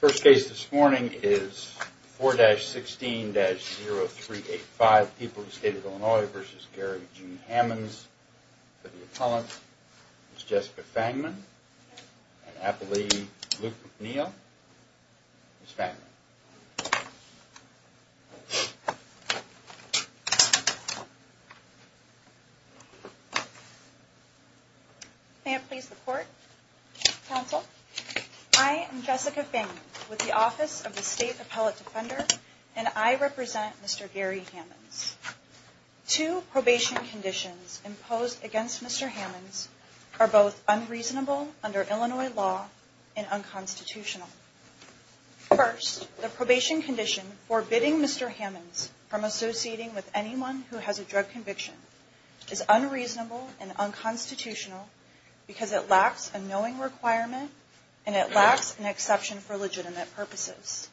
First case this morning is 4-16-0385, People of the State of Illinois v. Gary G. Hammons. For the appellant, Ms. Jessica Fangman and Appellee Luke McNeil. Ms. Fangman. May it please the Court, Counsel, I am Jessica Fangman with the Office of the State Appellate Defender and I represent Mr. Gary Hammons. Two probation conditions imposed against Mr. Hammons are both unreasonable under Illinois law and unconstitutional. First, the probation condition forbidding Mr. Hammons from associating with anyone who has a drug conviction is unreasonable and unconstitutional because it lacks a knowing requirement and it lacks an exception for legitimate purposes.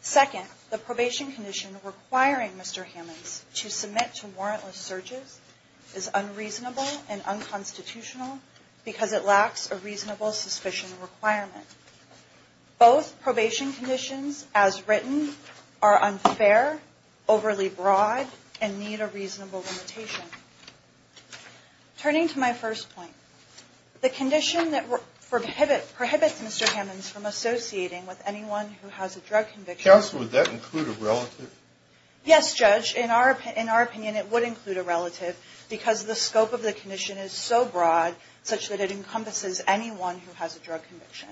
Second, the probation condition requiring Mr. Hammons to submit to warrantless searches is unreasonable and unconstitutional because it lacks a reasonable suspicion requirement. Both probation conditions, as written, are unfair, overly broad, and need a reasonable limitation. Turning to my first point, the condition that prohibits Mr. Hammons from associating with anyone who has a drug conviction Yes, Judge, in our opinion it would include a relative because the scope of the condition is so broad such that it encompasses anyone who has a drug conviction.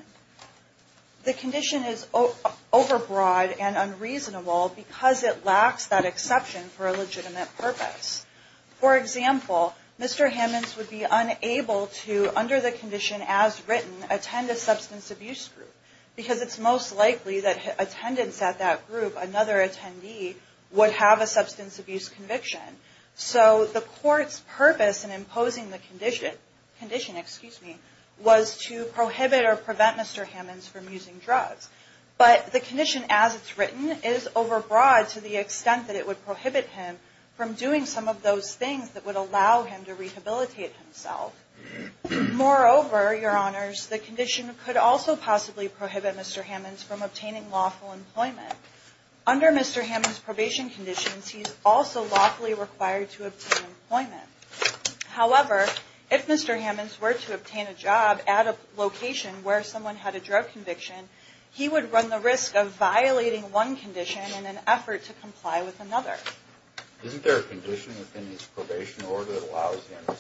The condition is overbroad and unreasonable because it lacks that exception for a legitimate purpose. For example, Mr. Hammons would be unable to, under the condition as written, attend a substance abuse group because it's most likely that attendance at that group, another attendee, would have a substance abuse conviction. So the court's purpose in imposing the condition was to prohibit or prevent Mr. Hammons from using drugs. But the condition as it's written is overbroad to the extent that it would prohibit him from doing some of those things that would allow him to rehabilitate himself. Moreover, Your Honors, the condition could also possibly prohibit Mr. Hammons from obtaining lawful employment. Under Mr. Hammons' probation conditions, he's also lawfully required to obtain employment. However, if Mr. Hammons were to obtain a job at a location where someone had a drug conviction, he would run the risk of violating one condition in an effort to comply with another. Isn't there a condition within his probation order that allows him to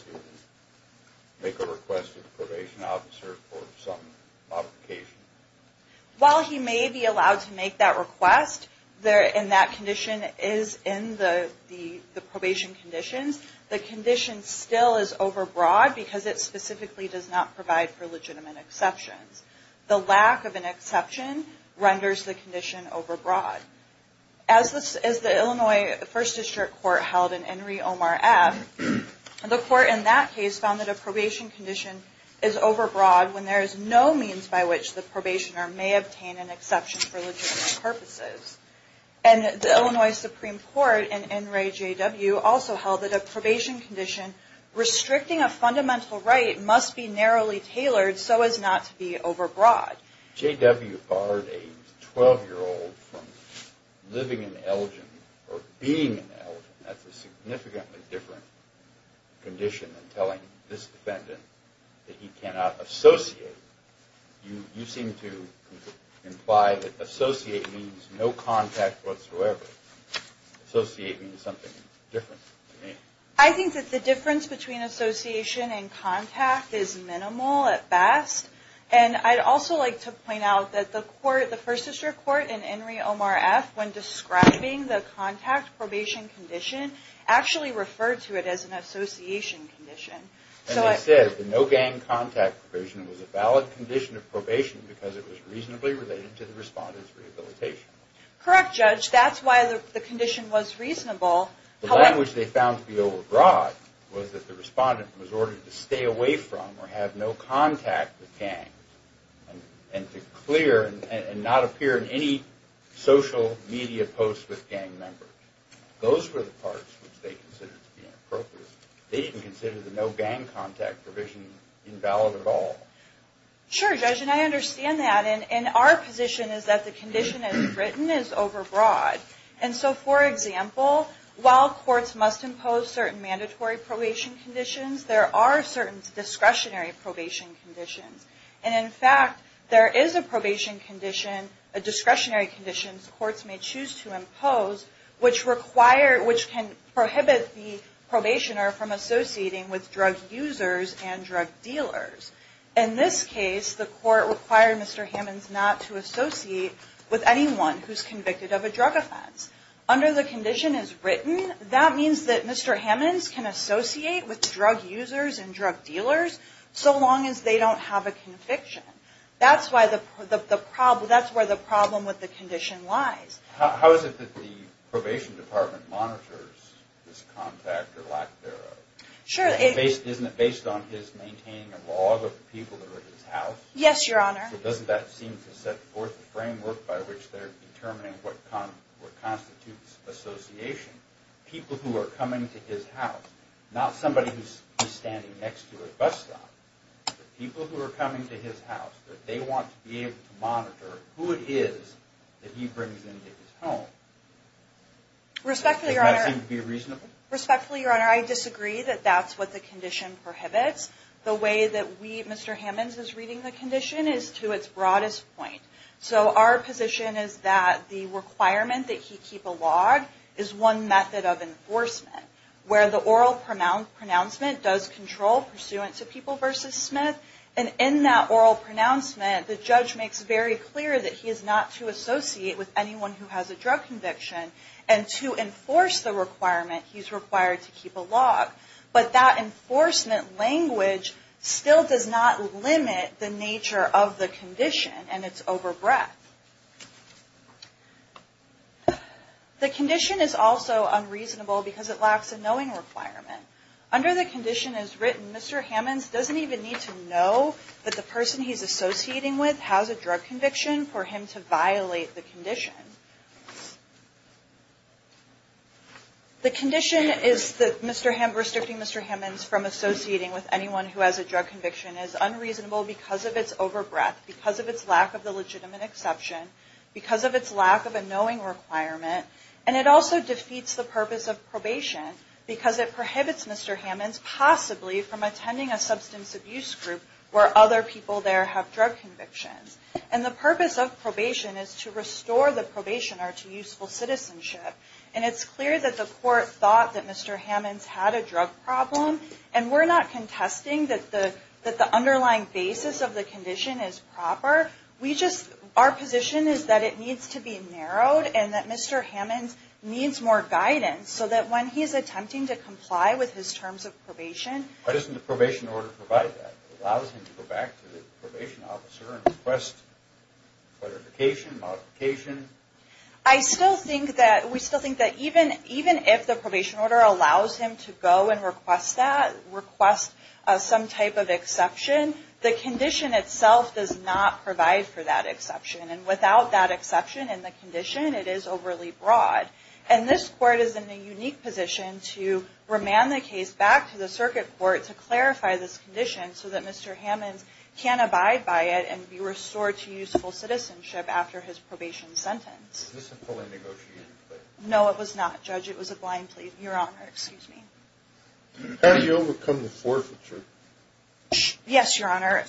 make a request to the probation officer for some modification? While he may be allowed to make that request and that condition is in the probation conditions, the condition still is overbroad because it specifically does not provide for legitimate exceptions. The lack of an exception renders the condition overbroad. As the Illinois First District Court held in Henry Omar F., the court in that case found that a probation condition is overbroad when there is no means by which the probationer may obtain an exception for legitimate purposes. And the Illinois Supreme Court in Henry J.W. also held that a probation condition restricting a fundamental right must be narrowly tailored so as not to be overbroad. J.W. barred a 12-year-old from living in Elgin or being in Elgin. That's a significantly different condition than telling this defendant that he cannot associate. You seem to imply that associate means no contact whatsoever. Associate means something different to me. I think that the difference between association and contact is minimal at best. And I'd also like to point out that the First District Court in Henry Omar F., when describing the contact probation condition, actually referred to it as an association condition. And they said the no gang contact probation was a valid condition of probation because it was reasonably related to the respondent's rehabilitation. Correct, Judge. That's why the condition was reasonable. The language they found to be overbroad was that the respondent was ordered to stay away from or have no contact with gangs and to clear and not appear in any social media posts with gang members. Those were the parts which they considered to be inappropriate. They didn't consider the no gang contact provision invalid at all. Sure, Judge, and I understand that. And our position is that the condition as written is overbroad. And so, for example, while courts must impose certain mandatory probation conditions, there are certain discretionary probation conditions. And in fact, there is a probation condition, a discretionary condition courts may choose to impose, which can prohibit the probationer from associating with drug users and drug dealers. In this case, the court required Mr. Hammons not to associate with anyone who's convicted of a drug offense. Under the condition as written, that means that Mr. Hammons can associate with drug users and drug dealers so long as they don't have a conviction. That's where the problem with the condition lies. How is it that the probation department monitors this contact or lack thereof? Isn't it based on his maintaining a log of the people that are at his house? Yes, Your Honor. So doesn't that seem to set forth a framework by which they're determining what constitutes association? People who are coming to his house, not somebody who's standing next to a bus stop, but people who are coming to his house, that they want to be able to monitor who it is that he brings into his home. Respectfully, Your Honor. Does that seem to be reasonable? Respectfully, Your Honor, I disagree that that's what the condition prohibits. The way that Mr. Hammons is reading the condition is to its broadest point. So our position is that the requirement that he keep a log is one method of enforcement, where the oral pronouncement does control pursuant to People v. Smith. And in that oral pronouncement, the judge makes very clear that he is not to associate with anyone who has a drug conviction. And to enforce the requirement, he's required to keep a log. But that enforcement language still does not limit the nature of the condition, and it's over breadth. The condition is also unreasonable because it lacks a knowing requirement. Under the condition as written, Mr. Hammons doesn't even need to know that the person he's associating with has a drug conviction for him to violate the condition. The condition is that restricting Mr. Hammons from associating with anyone who has a drug conviction is unreasonable because of its over breadth, because of its lack of the legitimate exception, because of its lack of a knowing requirement, and it also defeats the purpose of probation because it prohibits Mr. Hammons possibly from attending a substance abuse group where other people there have drug convictions. And the purpose of probation is to restore the probationer to useful citizenship. And it's clear that the court thought that Mr. Hammons had a drug problem, and we're not contesting that the underlying basis of the condition is proper. Our position is that it needs to be narrowed and that Mr. Hammons needs more guidance so that when he's attempting to comply with his terms of probation... ...it allows him to go back to the probation officer and request clarification, modification. I still think that, we still think that even if the probation order allows him to go and request that, request some type of exception, the condition itself does not provide for that exception. And without that exception in the condition, it is overly broad. And this court is in a unique position to remand the case back to the circuit court to clarify this condition so that Mr. Hammons can abide by it and be restored to useful citizenship after his probation sentence. Is this a poorly negotiated plea? No, it was not, Judge. It was a blind plea. Your Honor, excuse me. How do you overcome the forfeiture? Yes, Your Honor.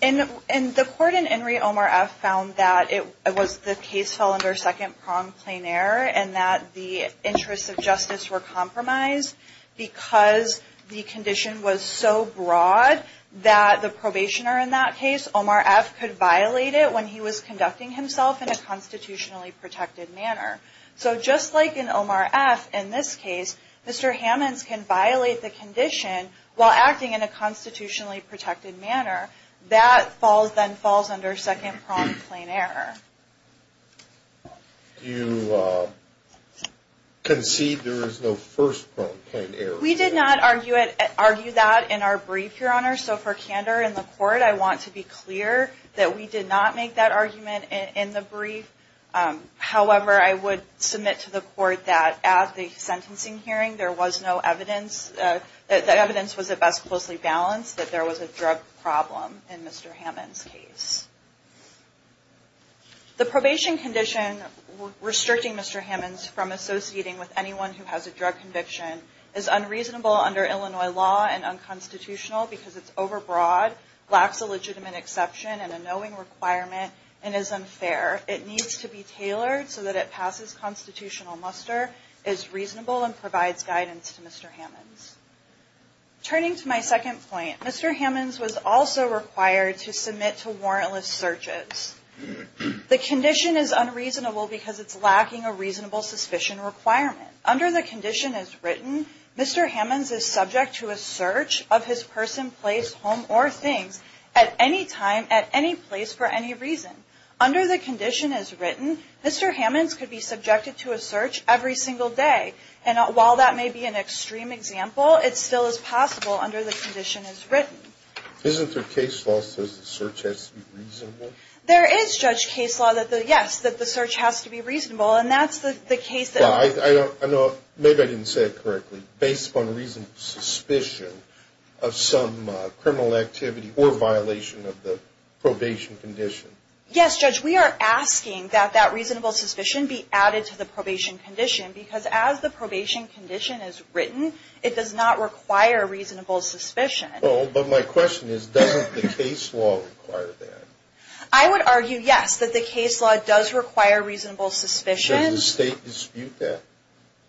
The court in Henry Omar F. found that the case fell under second-pronged plain error and that the interests of justice were compromised. Because the condition was so broad that the probationer in that case, Omar F., could violate it when he was conducting himself in a constitutionally protected manner. So just like in Omar F., in this case, Mr. Hammons can violate the condition while acting in a constitutionally protected manner. That then falls under second-pronged plain error. Do you concede there is no first-pronged plain error? We did not argue that in our brief, Your Honor. So for candor in the court, I want to be clear that we did not make that argument in the brief. However, I would submit to the court that at the sentencing hearing, there was no evidence, that evidence was at best closely balanced, that there was a drug problem in Mr. Hammons' case. The probation condition restricting Mr. Hammons from associating with anyone who has a drug conviction is unreasonable under Illinois law and unconstitutional because it's overbroad, lacks a legitimate exception and a knowing requirement, and is unfair. It needs to be tailored so that it passes constitutional muster, is reasonable, and provides guidance to Mr. Hammons. Turning to my second point, Mr. Hammons was also required to submit to warrantless searches. The condition is unreasonable because it's lacking a reasonable suspicion requirement. Under the condition as written, Mr. Hammons is subject to a search of his person, place, home, or things at any time, at any place, for any reason. Under the condition as written, Mr. Hammons could be subjected to a search every single day. And while that may be an extreme example, it still is possible under the condition as written. Isn't there case law that says the search has to be reasonable? There is, Judge, case law that says, yes, that the search has to be reasonable. And that's the case that... Well, maybe I didn't say it correctly. Based upon reasonable suspicion of some criminal activity or violation of the probation condition. Yes, Judge, we are asking that that reasonable suspicion be added to the probation condition because as the probation condition is written, it does not require reasonable suspicion. Well, but my question is, doesn't the case law require that? I would argue, yes, that the case law does require reasonable suspicion. Does the state dispute that?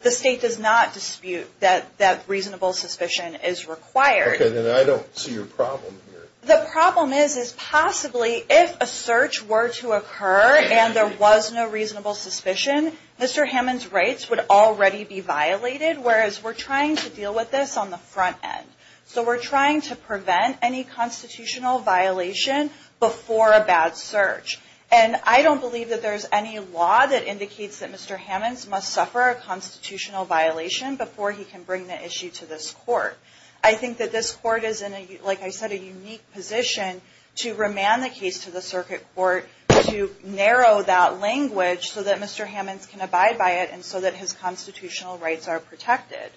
The state does not dispute that reasonable suspicion is required. Okay, then I don't see your problem here. The problem is, is possibly if a search were to occur and there was no reasonable suspicion, Mr. Hammond's rights would already be violated, whereas we're trying to deal with this on the front end. So we're trying to prevent any constitutional violation before a bad search. And I don't believe that there's any law that indicates that Mr. Hammond's must suffer a constitutional violation before he can bring the issue to this court. I think that this court is in, like I said, a unique position to remand the case to the circuit court to narrow that language so that Mr. Hammond can abide by it and so that his constitutional rights are protected.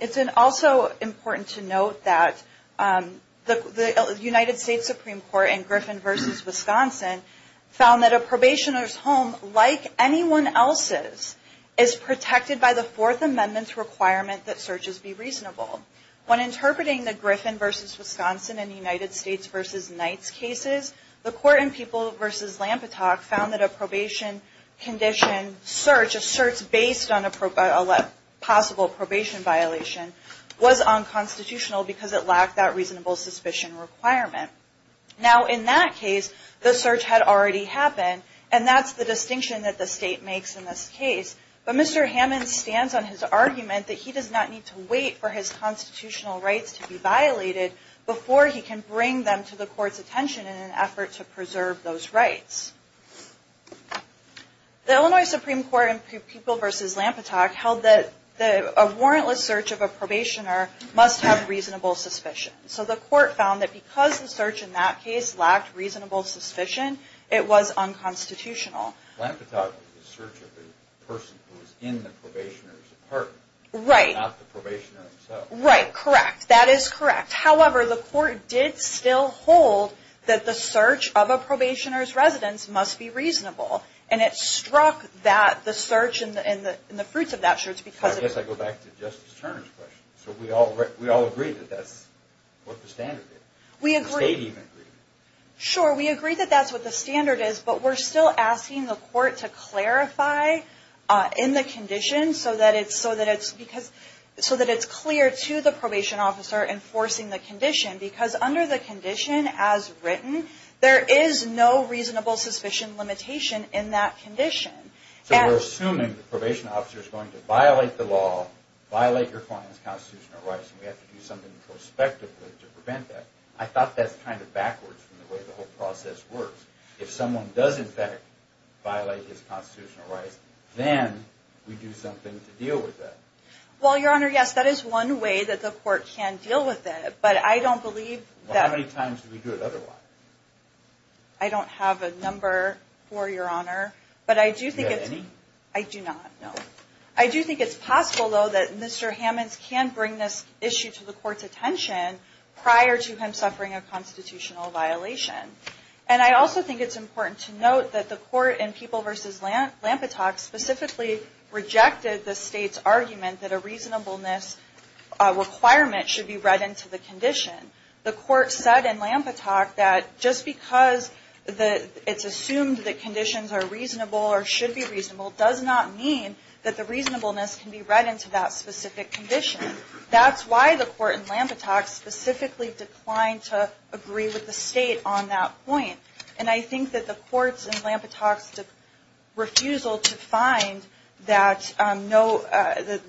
It's also important to note that the United States Supreme Court in Griffin v. Wisconsin found that a probationer's home, like anyone else's, is protected by the Fourth Amendment's requirement that searches be reasonable. When interpreting the Griffin v. Wisconsin and the United States v. Knight's cases, the court in People v. Lampetock found that a probation condition search, a search based on a possible probation violation, was unconstitutional because it lacked that reasonable suspicion requirement. Now in that case, the search had already happened, and that's the distinction that the state makes in this case. But Mr. Hammond stands on his argument that he does not need to wait for his constitutional rights to be violated before he can bring them to the court's attention in an effort to preserve those rights. The Illinois Supreme Court in People v. Lampetock held that a warrantless search of a probationer must have reasonable suspicion. So the court found that because the search in that case lacked reasonable suspicion, it was unconstitutional. Lampetock did the search of the person who was in the probationer's apartment, not the probationer himself. Right, correct. That is correct. However, the court did still hold that the search of a probationer's residence must be reasonable. And it struck that the search and the fruits of that search because of... I guess I go back to Justice Turner's question. So we all agree that that's what the standard is. We agree. The state even agreed. Sure, we agree that that's what the standard is, but we're still asking the court to clarify in the condition so that it's clear to the probation officer enforcing the condition. Because under the condition as written, there is no reasonable suspicion limitation in that condition. So we're assuming the probation officer is going to violate the law, violate your client's constitutional rights, and we have to do something prospectively to prevent that. I thought that's kind of backwards from the way the whole process works. If someone does, in fact, violate his constitutional rights, then we do something to deal with that. Well, Your Honor, yes, that is one way that the court can deal with it, but I don't believe that... Well, how many times do we do it otherwise? I don't have a number for Your Honor, but I do think it's... Do you have any? I do not, no. I do think it's possible, though, that Mr. Hammonds can bring this issue to the court's attention prior to him suffering a constitutional violation. And I also think it's important to note that the court in People v. Lampetock specifically rejected the state's argument that a reasonableness requirement should be read into the condition. The court said in Lampetock that just because it's assumed that conditions are reasonable or should be reasonable does not mean that the reasonableness can be read into that specific condition. That's why the court in Lampetock specifically declined to agree with the state on that point. And I think that the court's in Lampetock's refusal to find that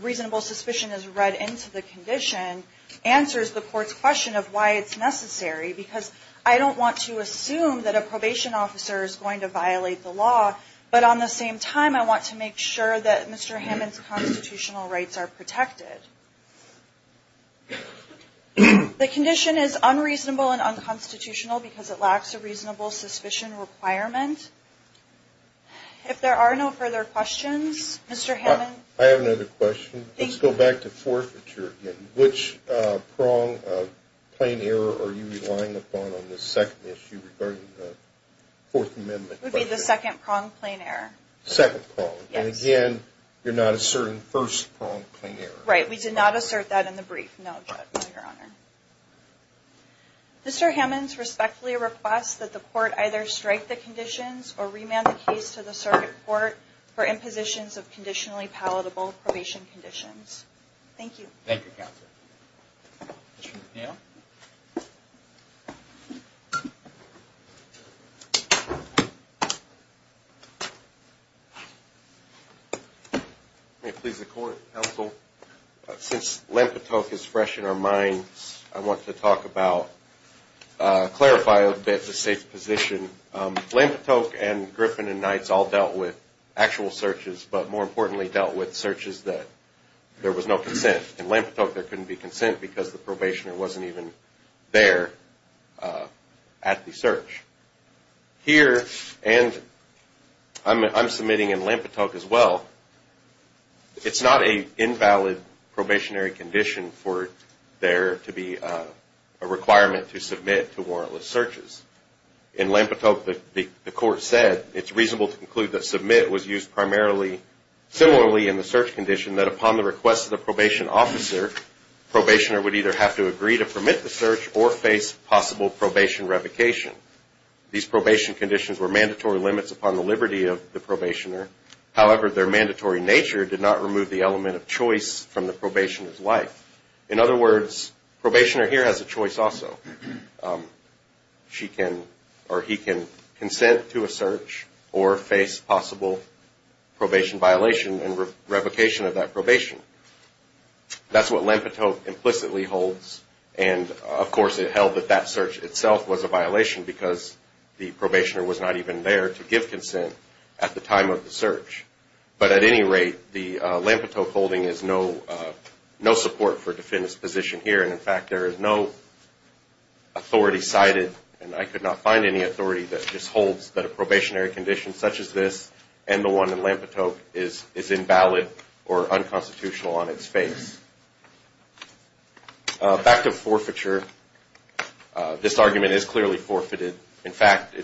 reasonable suspicion is read into the condition answers the court's question of why it's necessary. Because I don't want to assume that a probation officer is going to violate the law, but on the same time I want to make sure that Mr. Hammonds' constitutional rights are protected. The condition is unreasonable and unconstitutional because it lacks a reasonable suspicion requirement. If there are no further questions, Mr. Hammonds... I have another question. Let's go back to forfeiture again. Which prong of plain error are you relying upon on this second issue regarding the Fourth Amendment? It would be the second prong of plain error. Second prong. Yes. And again, you're not asserting the first prong of plain error. Right. We did not assert that in the brief. No, Judge. No, Your Honor. Mr. Hammonds respectfully requests that the court either strike the conditions or remand the case to the circuit court for impositions of conditionally palatable probation conditions. Thank you. Thank you, Counselor. Mr. McNeil. May it please the Court, Counsel, since Lempitoke is fresh in our minds, I want to talk about, clarify a bit the safe position. Lempitoke and Griffin and Knights all dealt with actual searches, but more importantly dealt with searches that there was no consent. In Lempitoke, there couldn't be consent because the probationer wasn't even there at the search. Here, and I'm submitting in Lempitoke as well, it's not an invalid probationary condition for there to be a requirement to submit to warrantless searches. In Lempitoke, the court said it's reasonable to conclude that submit was used primarily, similarly in the search condition, that upon the request of the probation officer, probationer would either have to agree to permit the search or face possible probation revocation. These probation conditions were mandatory limits upon the liberty of the probationer. However, their mandatory nature did not remove the element of choice from the probationer's life. In other words, probationer here has a choice also. She can or he can consent to a search or face possible probation violation and revocation of that probation. That's what Lempitoke implicitly holds, and of course it held that that search itself was a violation because the probationer was not even there to give consent at the time of the search. But at any rate, the Lempitoke holding is no support for defendant's position here, and in fact there is no authority cited, and I could not find any authority that just holds that a probationary condition such as this and the one in Lempitoke is invalid or unconstitutional on its face. Back to forfeiture, this argument is clearly forfeited. In fact,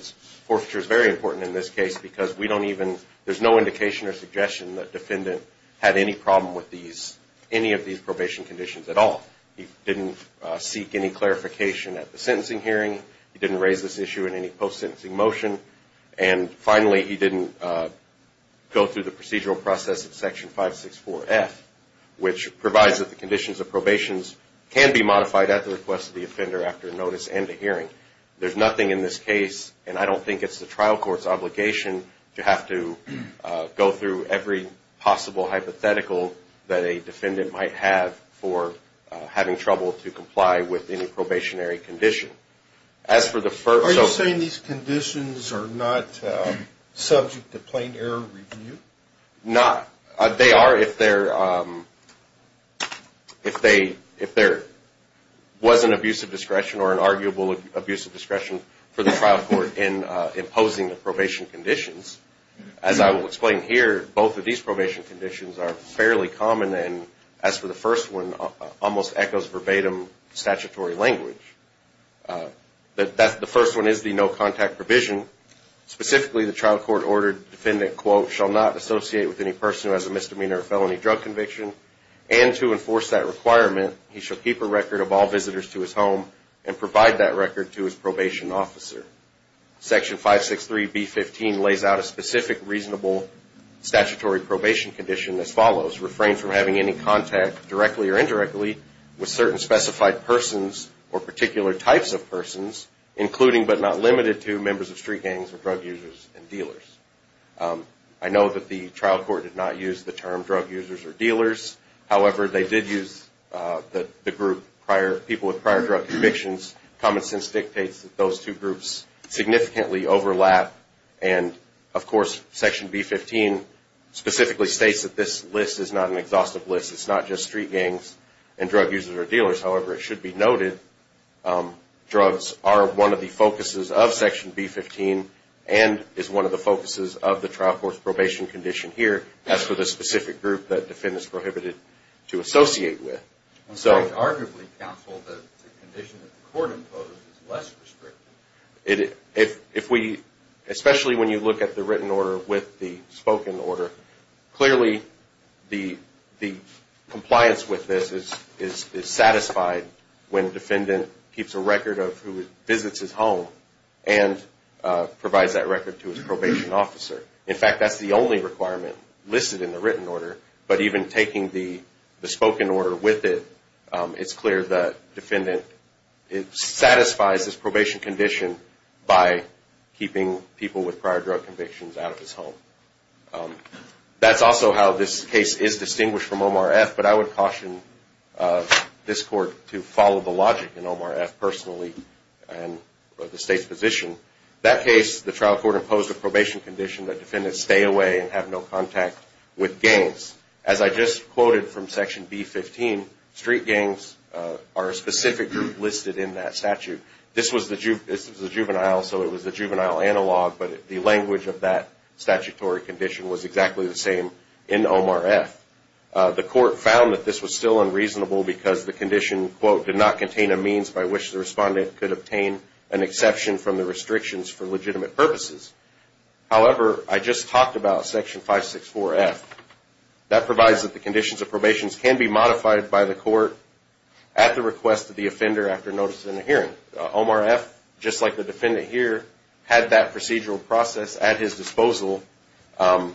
forfeiture is very important in this case because we don't even, there's no indication or suggestion that defendant had any problem with any of these probation conditions at all. He didn't seek any clarification at the sentencing hearing. He didn't raise this issue in any post-sentencing motion. And finally, he didn't go through the procedural process of Section 564F, which provides that the conditions of probations can be modified at the request of the offender after a notice and a hearing. There's nothing in this case, and I don't think it's the trial court's obligation, to have to go through every possible hypothetical that a defendant might have for having trouble to comply with any probationary condition. Are you saying these conditions are not subject to plain error review? They are if there was an abusive discretion or an arguable abusive discretion for the trial court in imposing the probation conditions. As I will explain here, both of these probation conditions are fairly common, and as for the first one, almost echoes verbatim statutory language. The first one is the no-contact provision. Specifically, the trial court ordered the defendant, quote, shall not associate with any person who has a misdemeanor or felony drug conviction, and to enforce that requirement, he shall keep a record of all visitors to his home and provide that record to his probation officer. Section 563B15 lays out a specific reasonable statutory probation condition as follows, refrain from having any contact directly or indirectly with certain specified persons or particular types of persons, including but not limited to members of street gangs or drug users and dealers. I know that the trial court did not use the term drug users or dealers. However, they did use the group, people with prior drug convictions. Common sense dictates that those two groups significantly overlap, and of course, Section B15 specifically states that this list is not an exhaustive list. However, it should be noted, drugs are one of the focuses of Section B15 and is one of the focuses of the trial court's probation condition here, as for the specific group that the defendant is prohibited to associate with. I would arguably counsel that the condition that the court imposed is less restrictive. If we, especially when you look at the written order with the spoken order, clearly the compliance with this is satisfied when the defendant keeps a record of who visits his home and provides that record to his probation officer. In fact, that's the only requirement listed in the written order, but even taking the spoken order with it, it's clear that the defendant satisfies this probation condition by keeping people with prior drug convictions out of his home. That's also how this case is distinguished from OMRF, but I would caution this court to follow the logic in OMRF personally and the state's position. That case, the trial court imposed a probation condition that defendants stay away and have no contact with gangs. As I just quoted from Section B15, street gangs are a specific group listed in that statute. This was the juvenile, so it was the juvenile analog, but the language of that statutory condition was exactly the same in OMRF. The court found that this was still unreasonable because the condition, quote, did not contain a means by which the respondent could obtain an exception from the restrictions for legitimate purposes. However, I just talked about Section 564F. That provides that the conditions of probation can be modified by the court at the request of the offender after notice in a hearing. OMRF, just like the defendant here, had that procedural process at his disposal and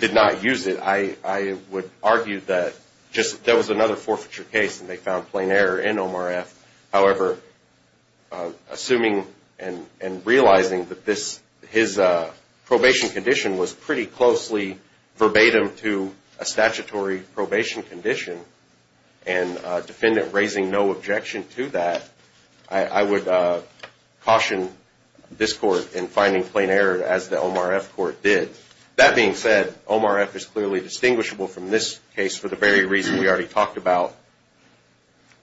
did not use it. I would argue that just that was another forfeiture case and they found plain error in OMRF. However, assuming and realizing that his probation condition was pretty closely verbatim to a statutory probation condition and a defendant raising no objection to that, I would caution this court in finding plain error as the OMRF court did. That being said, OMRF is clearly distinguishable from this case for the very reason we already talked about.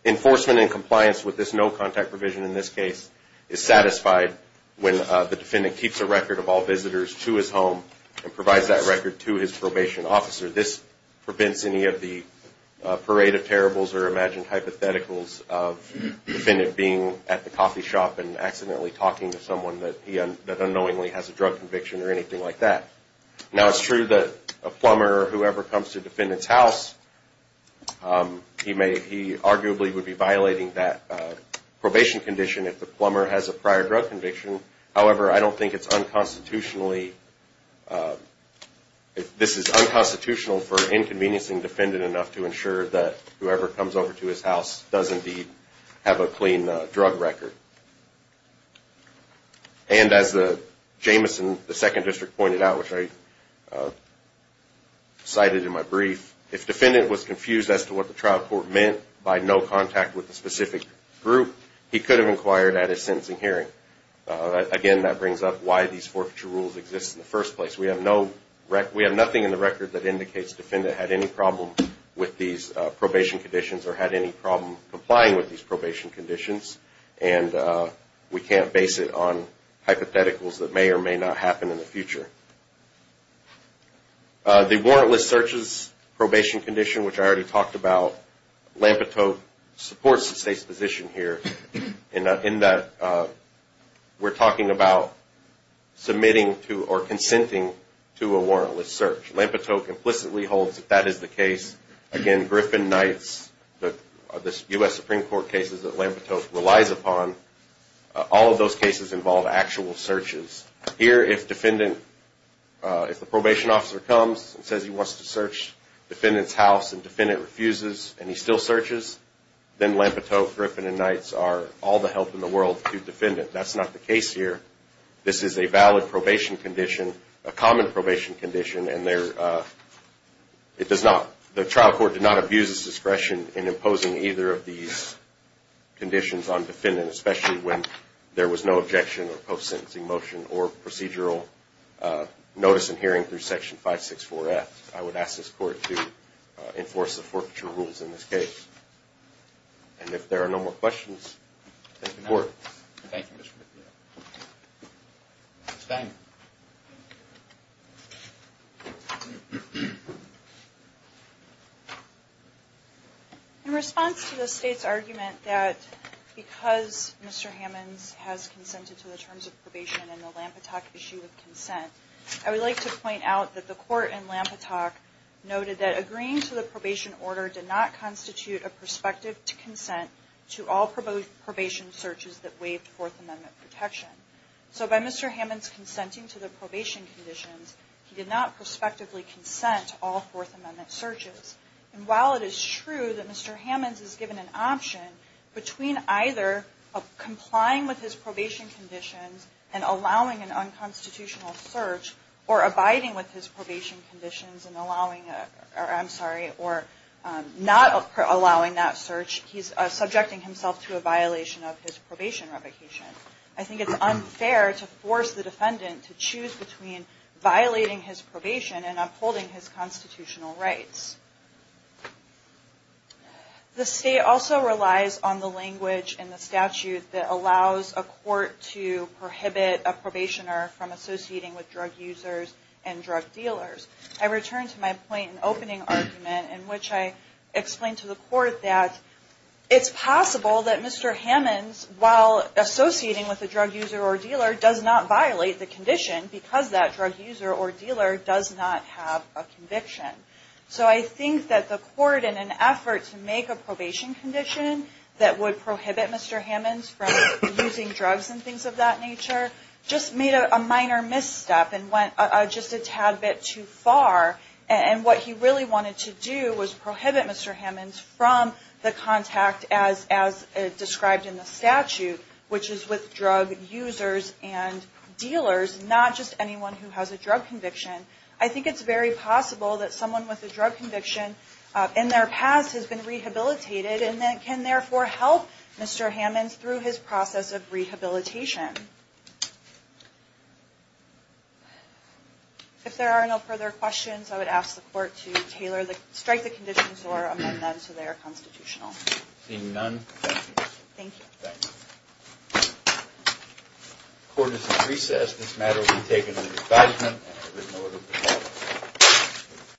Enforcement in compliance with this no contact provision in this case is satisfied when the defendant keeps a record of all visitors to his home and provides that record to his probation officer. This prevents any of the parade of terribles or imagined hypotheticals of the defendant being at the coffee shop and accidentally talking to someone that unknowingly has a drug conviction or anything like that. Now, it's true that a plumber, whoever comes to the defendant's house, he arguably would be violating that probation condition if the plumber has a prior drug conviction. However, I don't think it's unconstitutionally, this is unconstitutional for inconveniencing the defendant enough to ensure that whoever comes over to his house does indeed have a clean drug record. And as Jameson, the second district pointed out, which I cited in my brief, if the defendant was confused as to what the trial court meant by no contact with a specific group, he could have inquired at his sentencing hearing. Again, that brings up why these forfeiture rules exist in the first place. We have nothing in the record that indicates the defendant had any problem with these probation conditions or had any problem complying with these probation conditions, and we can't base it on hypotheticals that may or may not happen in the future. The warrantless searches probation condition, which I already talked about, Lampetote supports the state's position here in that we're talking about submitting to or consenting to a warrantless search. Lampetote implicitly holds that that is the case. Again, Griffin-Knights, the U.S. Supreme Court cases that Lampetote relies upon, all of those cases involve actual searches. Here, if the probation officer comes and says he wants to search the defendant's house and the defendant refuses and he still searches, then Lampetote, Griffin, and Knights are all the help in the world to the defendant. That's not the case here. This is a valid probation condition, a common probation condition, and the trial court did not abuse its discretion in imposing either of these conditions on the defendant, especially when there was no objection or post-sentencing motion or procedural notice in hearing through Section 564F. I would ask this Court to enforce the forfeiture rules in this case. And if there are no more questions, thank the Court. Thank you, Mr. McNeil. Ms. Banger. In response to the state's argument that because Mr. Hammonds has consented to the terms of probation and the Lampetote issue of consent, I would like to point out that the Court in Lampetote noted that agreeing to the probation order did not constitute a prospective consent to all probation searches that waived Fourth Amendment protection. So by Mr. Hammonds consenting to the probation conditions, he did not prospectively consent to all Fourth Amendment searches. And while it is true that Mr. Hammonds is given an option between either complying with his probation conditions and allowing an unconstitutional search or abiding with his probation conditions and allowing, I'm sorry, or not allowing that search, he's subjecting himself to a violation of his probation revocation. I think it's unfair to force the defendant to choose between violating his probation and upholding his constitutional rights. The state also relies on the language in the statute that allows a court to prohibit a probationer from associating with drug users and drug dealers. I return to my point in opening argument in which I explained to the Court that it's possible that Mr. Hammonds, while associating with a drug user or dealer, does not violate the condition because that drug user or dealer does not have a conviction. So I think that the Court, in an effort to make a probation condition that would prohibit Mr. Hammonds from using drugs and things of that nature, just made a minor misstep and went just a tad bit too far. And what he really wanted to do was prohibit Mr. Hammonds from the contact as described in the statute, which is with drug users and dealers, not just anyone who has a drug conviction. I think it's very possible that someone with a drug conviction in their past has been rehabilitated and can therefore help Mr. Hammonds through his process of rehabilitation. If there are no further questions, I would ask the Court to strike the conditions or amend them to their constitutional. Thank you.